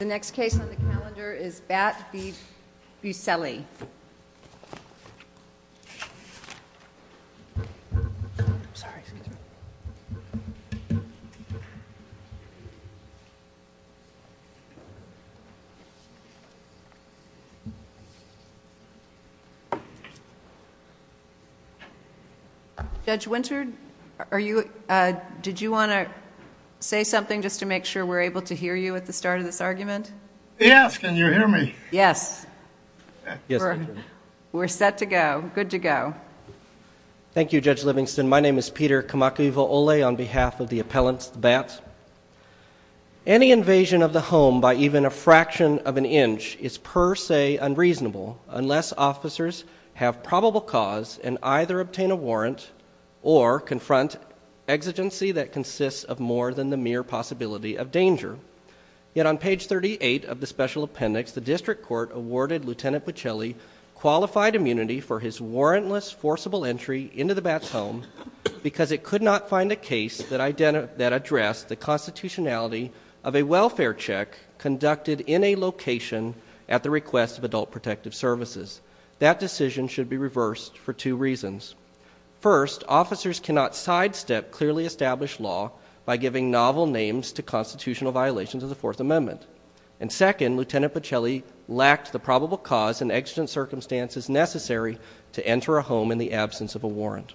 The next case on the calendar is Bat v. Buccilli. Judge Winter, did you want to say something just to make sure we're able to hear you at the start of this argument? Yes, can you hear me? Yes, we're set to go. Good to go. Thank you, Judge Livingston. My name is Peter Kamakiwo'ole on behalf of the appellants, the Bats. Any invasion of the home by even a fraction of an inch is per se unreasonable unless officers have probable cause and either obtain a warrant or confront exigency that consists of more than the mere possibility of danger. Yet on page 38 of the Special Appendix, the District Court awarded Lt. Buccilli qualified immunity for his warrantless, forcible entry into the Bats' home because it could not find a case that addressed the constitutionality of a welfare check conducted in a location at the request of Adult Protective Services. That decision should be reversed for two reasons. First, officers cannot sidestep clearly established law by giving novel names to constitutional violations of the Fourth Amendment. And second, Lt. Buccilli lacked the probable cause and exigent circumstances necessary to enter a home in the absence of a warrant.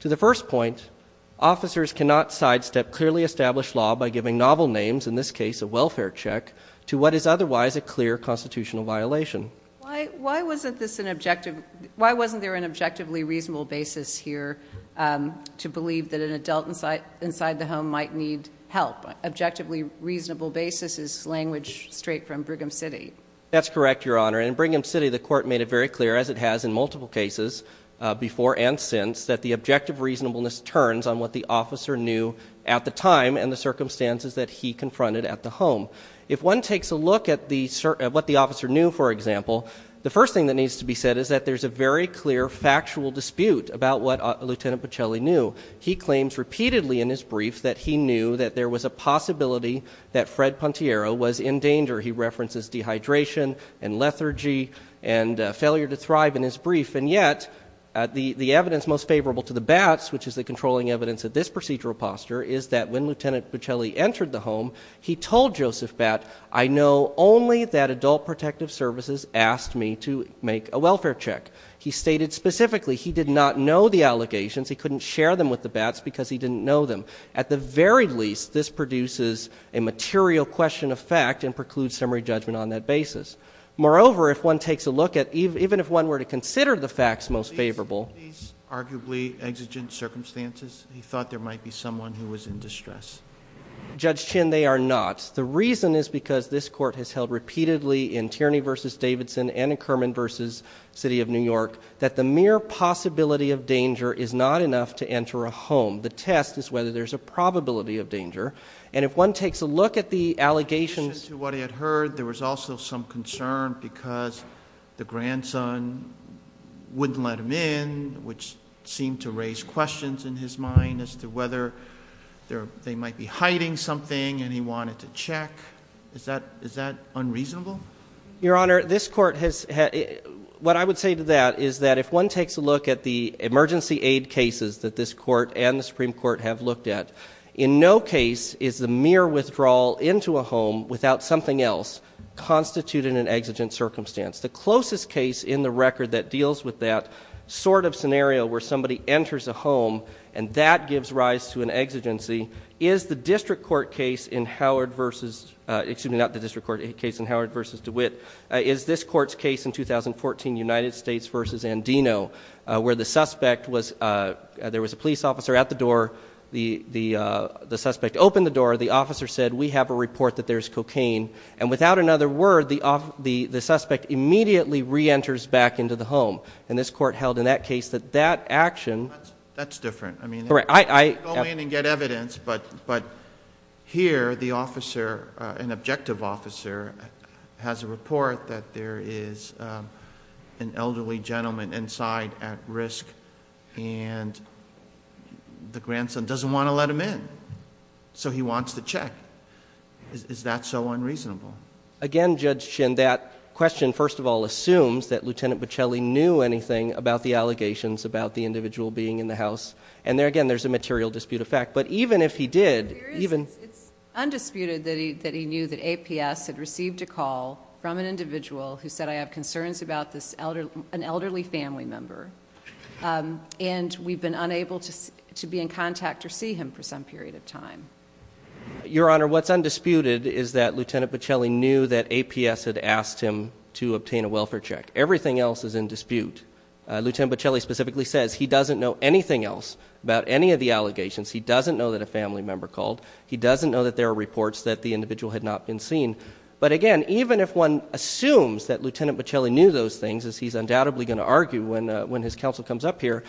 To the first point, officers cannot sidestep clearly established law by giving novel names, in this case a welfare check, to what is otherwise a clear constitutional violation. Why wasn't there an objectively reasonable basis here to believe that an adult inside the home might need help? Objectively reasonable basis is language straight from Brigham City. That's correct, Your Honor. In Brigham City, the court made it very clear, as it has in multiple cases before and since, that the objective reasonableness turns on what the officer knew at the time and the circumstances that he confronted at the home. If one takes a look at what the officer knew, for example, the first thing that needs to be said is that there's a very clear factual dispute about what Lt. Buccelli knew. He claims repeatedly in his brief that he knew that there was a possibility that Fred Pontiero was in danger. He references dehydration and lethargy and failure to thrive in his brief. And yet, the evidence most favorable to the Batts, which is the controlling evidence of this procedural posture, is that when Lt. Buccelli entered the home, he told Joseph Batt, I know only that Adult Protective Services asked me to make a welfare check. He stated specifically he did not know the allegations. He couldn't share them with the Batts because he didn't know them. At the very least, this produces a material question of fact and precludes summary judgment on that basis. Moreover, if one takes a look at, even if one were to consider the facts most favorable... These arguably exigent circumstances, he thought there might be someone who was in distress. Judge Chin, they are not. The reason is because this court has held repeatedly in Tierney v. Davidson and in Kerman v. City of New York that the mere possibility of danger is not enough to enter a home. The test is whether there's a probability of danger. And if one takes a look at the allegations... In addition to what he had heard, there was also some concern because the grandson wouldn't let him in, which seemed to raise questions in his mind as to whether they might be hiding something and he wanted to check. Is that unreasonable? Your Honor, this court has... What I would say to that is that if one takes a look at the emergency aid cases that this court and the Supreme Court have looked at, in no case is the mere withdrawal into a home without something else constituted an exigent circumstance. The closest case in the record that deals with that sort of scenario where somebody enters a home and that gives rise to an exigency is the district court case in Howard v. DeWitt. Is this court's case in 2014, United States v. Andino, where the suspect was... Before the suspect opened the door, the officer said, We have a report that there's cocaine. And without another word, the suspect immediately re-enters back into the home. And this court held in that case that that action... That's different. I mean, I... Go in and get evidence, but here the officer, an objective officer, has a report that there is an elderly gentleman inside at risk, and the grandson doesn't want to let him in. So he wants to check. Is that so unreasonable? Again, Judge Shin, that question, first of all, assumes that Lieutenant Bocelli knew anything about the allegations about the individual being in the house. And again, there's a material dispute of fact. But even if he did, even... from an individual who said, Your Honor, what's undisputed is that Lieutenant Bocelli knew that APS had asked him to obtain a welfare check. Everything else is in dispute. Lieutenant Bocelli specifically says he doesn't know anything else about any of the allegations. He doesn't know that a family member called. He doesn't know that there are reports that the individual had not been seen. But again, even if one assumes that Lieutenant Bocelli knew those things, as he's undoubtedly going to argue when his counsel comes up here,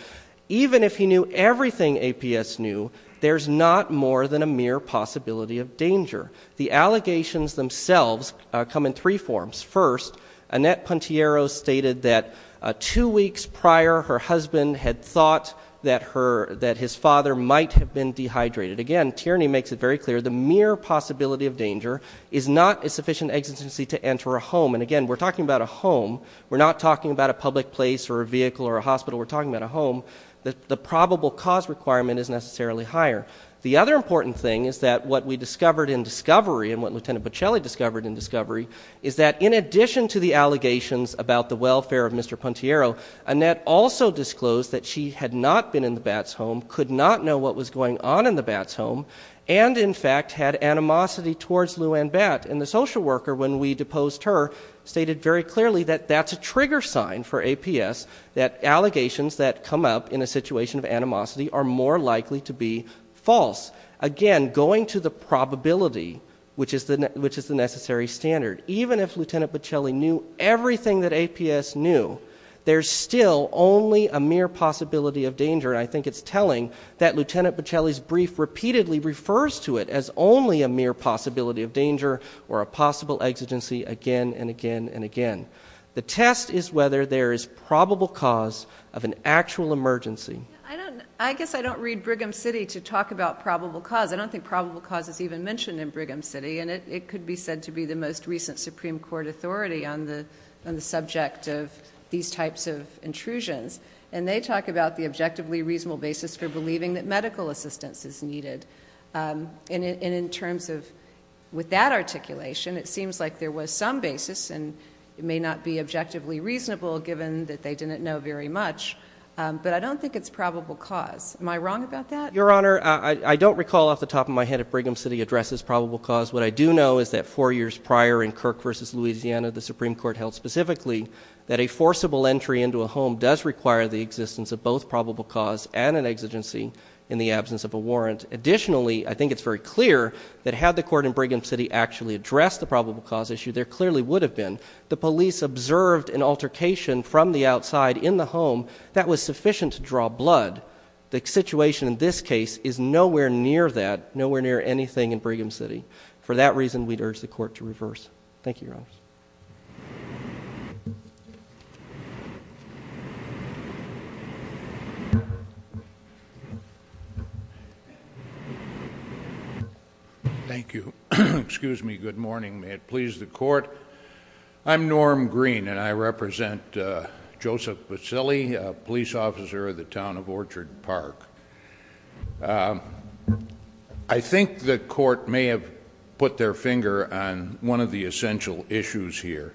even if he knew everything APS knew, there's not more than a mere possibility of danger. The allegations themselves come in three forms. First, Annette Pontiero stated that two weeks prior, her husband had thought that his father might have been dehydrated. Again, Tierney makes it very clear, the mere possibility of danger is not a sufficient exigency to enter a home. And again, we're talking about a home. We're not talking about a public place or a vehicle or a hospital. We're talking about a home. The probable cause requirement is necessarily higher. The other important thing is that what we discovered in discovery, and what Lieutenant Bocelli discovered in discovery, is that in addition to the allegations about the welfare of Mr. Pontiero, Annette also disclosed that she had not been in the Batts' home, could not know what was going on in the Batts' home, and in fact had animosity towards Lou Ann Batt. And the social worker, when we deposed her, stated very clearly that that's a trigger sign for APS, that allegations that come up in a situation of animosity are more likely to be false. Again, going to the probability, which is the necessary standard. Even if Lieutenant Bocelli knew everything that APS knew, there's still only a mere possibility of danger, and I think it's telling that Lieutenant Bocelli's brief repeatedly refers to it as only a mere possibility of danger or a possible exigency again and again and again. The test is whether there is probable cause of an actual emergency. I guess I don't read Brigham City to talk about probable cause. I don't think probable cause is even mentioned in Brigham City, and it could be said to be the most recent Supreme Court authority on the subject of these types of intrusions. And they talk about the objectively reasonable basis for believing that medical assistance is needed. And in terms of with that articulation, it seems like there was some basis, and it may not be objectively reasonable given that they didn't know very much, but I don't think it's probable cause. Am I wrong about that? Your Honor, I don't recall off the top of my head if Brigham City addresses probable cause. What I do know is that four years prior in Kirk v. Louisiana, the Supreme Court held specifically that a forcible entry into a home does require the existence of both probable cause and an exigency in the absence of a warrant. Additionally, I think it's very clear that had the court in Brigham City actually addressed the probable cause issue, there clearly would have been. The police observed an altercation from the outside in the home that was sufficient to draw blood. The situation in this case is nowhere near that, nowhere near anything in Brigham City. For that reason, we'd urge the court to reverse. Thank you, Your Honor. Thank you. Excuse me. Good morning. May it please the court. I'm Norm Green, and I represent Joseph Basile, a police officer of the town of Orchard Park. I think the court may have put their finger on one of the essential issues here.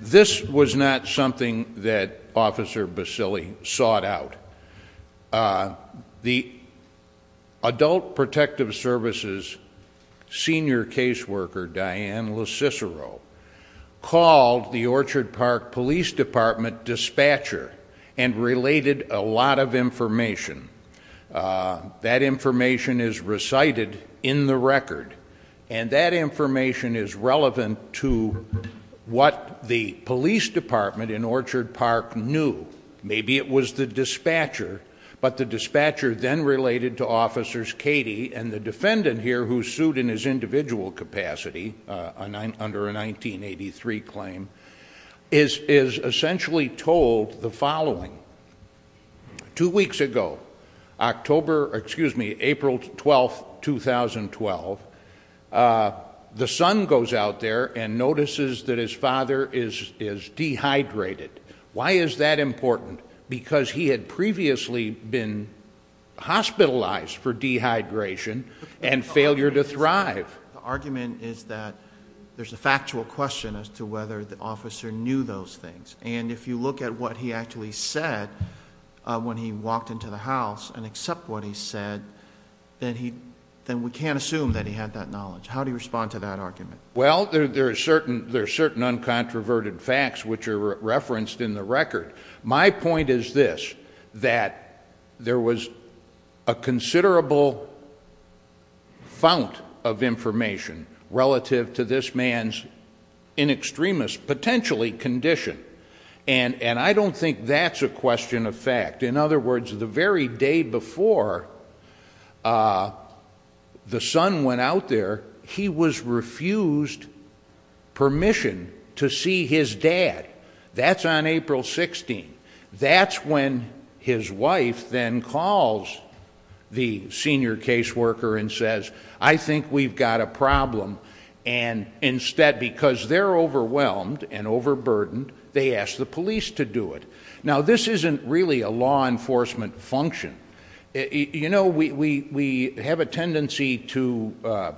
This was not something that Officer Basile sought out. The Adult Protective Services senior caseworker, Diane LoCicero, called the Orchard Park Police Department dispatcher and related a lot of information. That information is recited in the record, and that information is relevant to what the police department in Orchard Park knew. Maybe it was the dispatcher, but the dispatcher then related to Officers Cady and the defendant here who sued in his individual capacity under a 1983 claim is essentially told the following. Two weeks ago, April 12, 2012, the son goes out there and notices that his father is dehydrated. Why is that important? Because he had previously been hospitalized for dehydration and failure to thrive. The argument is that there's a factual question as to whether the officer knew those things, and if you look at what he actually said when he walked into the house and accept what he said, then we can't assume that he had that knowledge. How do you respond to that argument? Well, there are certain uncontroverted facts which are referenced in the record. My point is this, that there was a considerable fount of information relative to this man's in extremis, potentially, condition. And I don't think that's a question of fact. In other words, the very day before the son went out there, he was refused permission to see his dad. That's on April 16. That's when his wife then calls the senior caseworker and says, I think we've got a problem. And instead, because they're overwhelmed and overburdened, they ask the police to do it. Now, this isn't really a law enforcement function. You know, we have a tendency to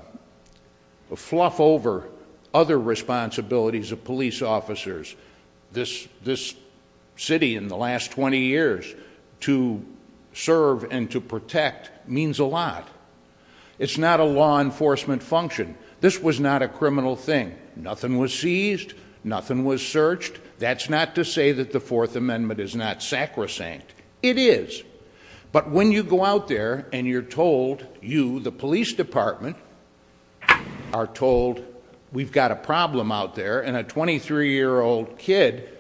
fluff over other responsibilities of police officers. This city in the last 20 years to serve and to protect means a lot. It's not a law enforcement function. This was not a criminal thing. Nothing was seized. Nothing was searched. That's not to say that the Fourth Amendment is not sacrosanct. It is. But when you go out there and you're told, you, the police department, are told, we've got a problem out there. And a 23-year-old kid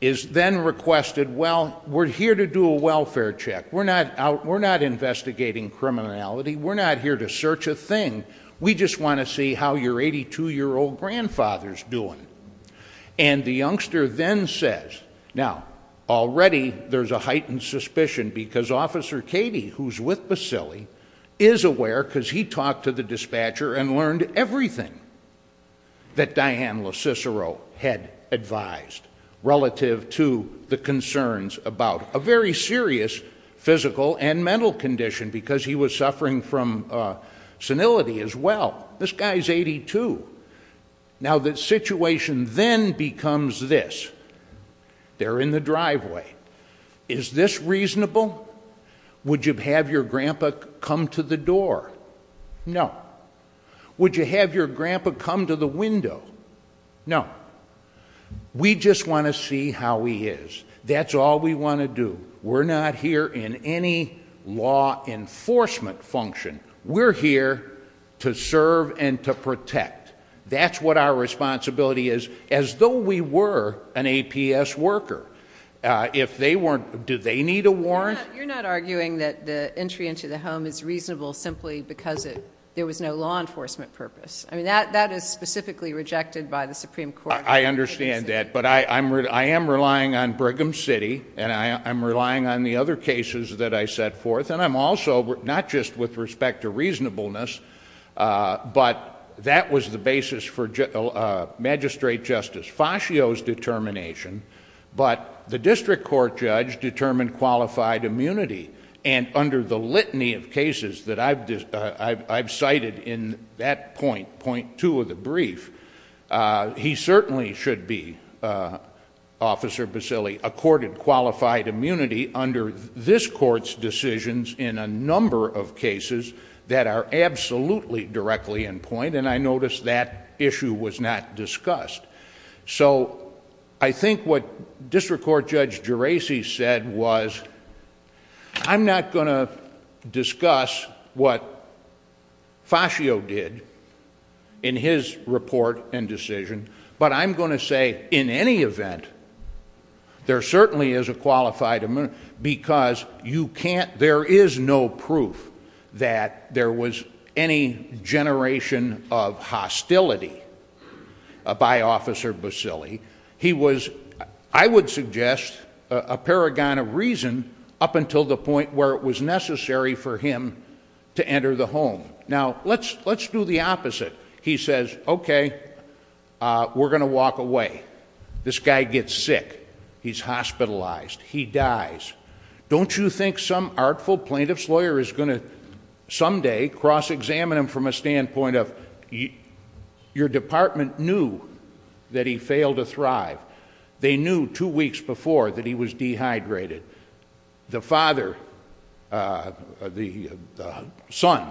is then requested, well, we're here to do a welfare check. We're not investigating criminality. We're not here to search a thing. We just want to see how your 82-year-old grandfather's doing. And the youngster then says, now, already there's a heightened suspicion because Officer Katie, who's with Basili, is aware because he talked to the dispatcher and learned everything that Diane LoCicero had advised relative to the concerns about a very serious physical and mental condition because he was suffering from senility as well. This guy is 82. Now, the situation then becomes this. They're in the driveway. Is this reasonable? Would you have your grandpa come to the door? No. Would you have your grandpa come to the window? No. We just want to see how he is. That's all we want to do. We're not here in any law enforcement function. We're here to serve and to protect. That's what our responsibility is, as though we were an APS worker. If they weren't, do they need a warrant? You're not arguing that the entry into the home is reasonable simply because there was no law enforcement purpose. I mean, that is specifically rejected by the Supreme Court. I understand that. But I am relying on Brigham City, and I'm relying on the other cases that I set forth. And I'm also... not just with respect to reasonableness, but that was the basis for Magistrate Justice Fascio's determination. But the district court judge determined qualified immunity, and under the litany of cases that I've cited in that point, point two of the brief, he certainly should be, Officer Basile, certainly accorded qualified immunity under this court's decisions in a number of cases that are absolutely directly in point, and I noticed that issue was not discussed. So I think what District Court Judge Geraci said was, I'm not going to discuss what Fascio did in his report and decision, but I'm going to say, in any event, there certainly is a qualified immunity, because you can't... there is no proof that there was any generation of hostility by Officer Basile. He was, I would suggest, a paragon of reason up until the point where it was necessary for him to enter the home. Now, let's do the opposite. He says, okay, we're going to walk away. This guy gets sick. He's hospitalized. He dies. Don't you think some artful plaintiff's lawyer is going to someday cross-examine him from a standpoint of, your department knew that he failed to thrive. They knew two weeks before that he was dehydrated. The father, the son,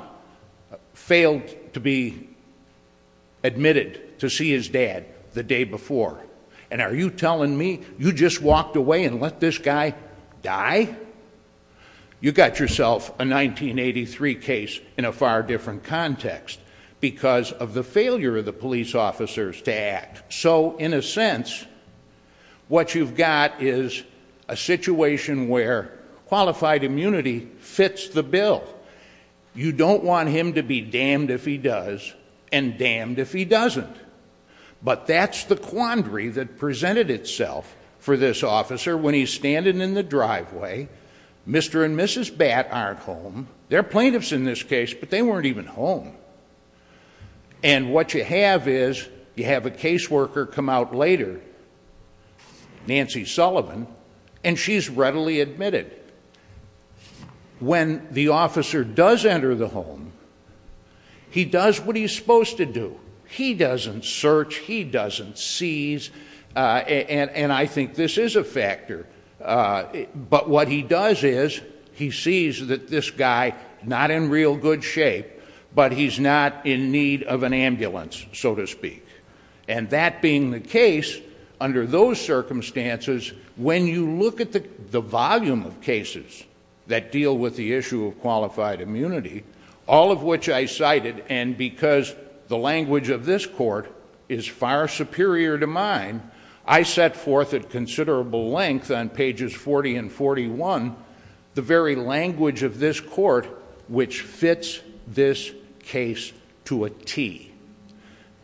failed to be admitted to see his dad the day before, and are you telling me you just walked away and let this guy die? You got yourself a 1983 case in a far different context because of the failure of the police officers to act. So, in a sense, what you've got is a situation where qualified immunity fits the bill. You don't want him to be damned if he does and damned if he doesn't. But that's the quandary that presented itself for this officer when he's standing in the driveway. Mr. and Mrs. Batt aren't home. They're plaintiffs in this case, but they weren't even home. And what you have is you have a caseworker come out later, Nancy Sullivan, and she's readily admitted. When the officer does enter the home, he does what he's supposed to do. He doesn't search. He doesn't seize, and I think this is a factor. But what he does is he sees that this guy, not in real good shape, but he's not in need of an ambulance, so to speak. And that being the case, under those circumstances, when you look at the volume of cases that deal with the issue of qualified immunity, all of which I cited, and because the language of this court is far superior to mine, I set forth at considerable length on pages 40 and 41 the very language of this court which fits this case to a T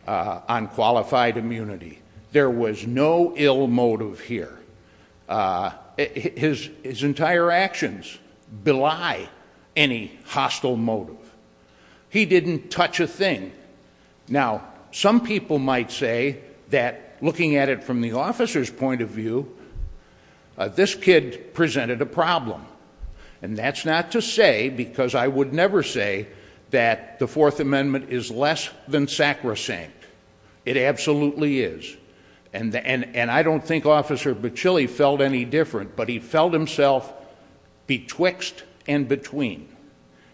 on qualified immunity. There was no ill motive here. His entire actions belie any hostile motive. He didn't touch a thing. Now, some people might say that looking at it from the officer's point of view, this kid presented a problem. And that's not to say, because I would never say, that the Fourth Amendment is less than sacrosanct. It absolutely is. And I don't think Officer Bacilli felt any different, but he felt himself betwixt and between.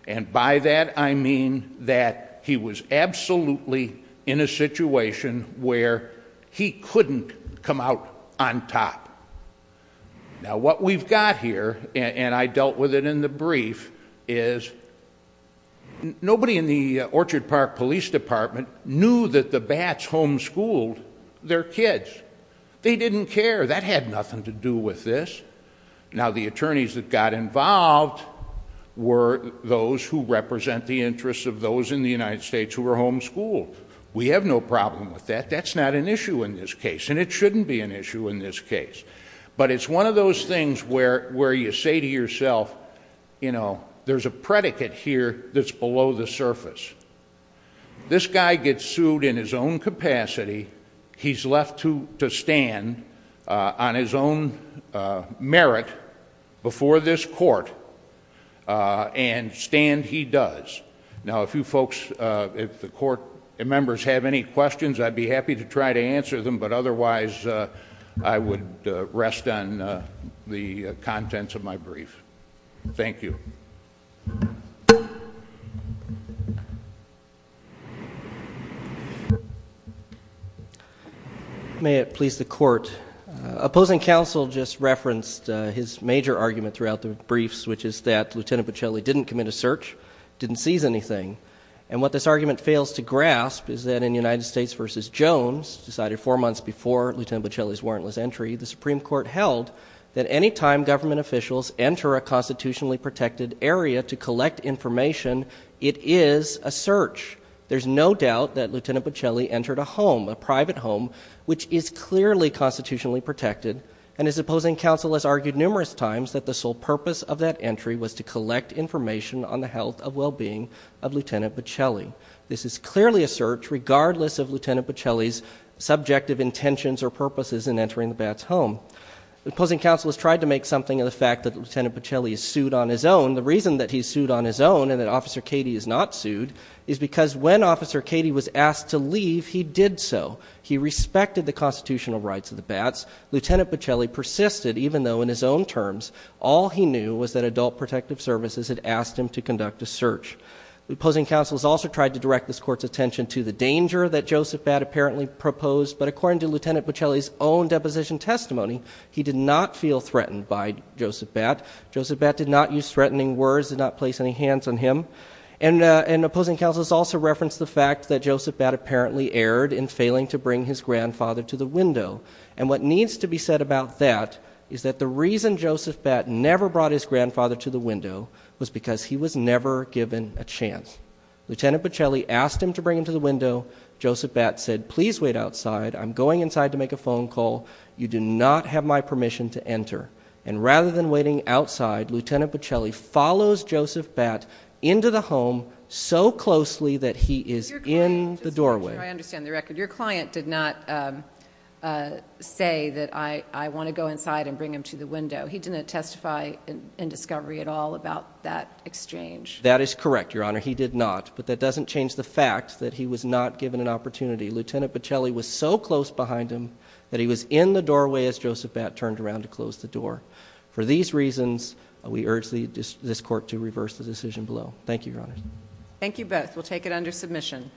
And by that, I mean that he was absolutely in a situation where he couldn't come out on top. Now, what we've got here, and I dealt with it in the brief, is nobody in the Orchard Park Police Department knew that the Bats homeschooled their kids. They didn't care. That had nothing to do with this. Now, the attorneys that got involved were those who represent the interests of those in the United States who were homeschooled. We have no problem with that. That's not an issue in this case, and it shouldn't be an issue in this case. But it's one of those things where you say to yourself, you know, there's a predicate here that's below the surface. This guy gets sued in his own capacity. He's left to stand on his own merit before this court, and stand he does. Now, if you folks, if the court members have any questions, I'd be happy to try to answer them, but otherwise, I would rest on the contents of my brief. Thank you. May it please the court. Opposing counsel just referenced his major argument throughout the briefs, which is that Lieutenant Bocelli didn't commit a search, didn't seize anything. And what this argument fails to grasp is that in United States v. Jones, decided four months before Lieutenant Bocelli's warrantless entry, the Supreme Court held that any time government officials enter a constitutionally protected area to collect information, it is a search. There's no doubt that Lieutenant Bocelli entered a home, a private home, which is clearly constitutionally protected, and his opposing counsel has argued numerous times that the sole purpose of that entry was to collect information on the health and well-being of Lieutenant Bocelli. This is clearly a search, regardless of Lieutenant Bocelli's subjective intentions or purposes in entering the bat's home. Opposing counsel has tried to make something of the fact that Lieutenant Bocelli is sued on his own. The reason that he's sued on his own and that Officer Cady is not sued is because when Officer Cady was asked to leave, he did so. He respected the constitutional rights of the bats. Lieutenant Bocelli persisted, even though in his own terms, all he knew was that Adult Protective Services had asked him to conduct a search. The opposing counsel has also tried to direct this Court's attention to the danger that Joseph Batt apparently proposed, but according to Lieutenant Bocelli's own deposition testimony, he did not feel threatened by Joseph Batt. Joseph Batt did not use threatening words, did not place any hands on him. And opposing counsel has also referenced the fact that Joseph Batt apparently erred in failing to bring his grandfather to the window. And what needs to be said about that is that the reason Joseph Batt never brought his grandfather to the window was because he was never given a chance. Lieutenant Bocelli asked him to bring him to the window. Joseph Batt said, please wait outside. I'm going inside to make a phone call. You do not have my permission to enter. And rather than waiting outside, Lieutenant Bocelli follows Joseph Batt into the home so closely that he is in the doorway. I understand the record. Your client did not say that I want to go inside and bring him to the window. He didn't testify in discovery at all about that exchange. That is correct, Your Honor. He did not. But that doesn't change the fact that he was not given an opportunity. Lieutenant Bocelli was so close behind him that he was in the doorway as Joseph Batt turned around to close the door. For these reasons, we urge this court to reverse the decision below. Thank you, Your Honor. Thank you both. We'll take it under submission.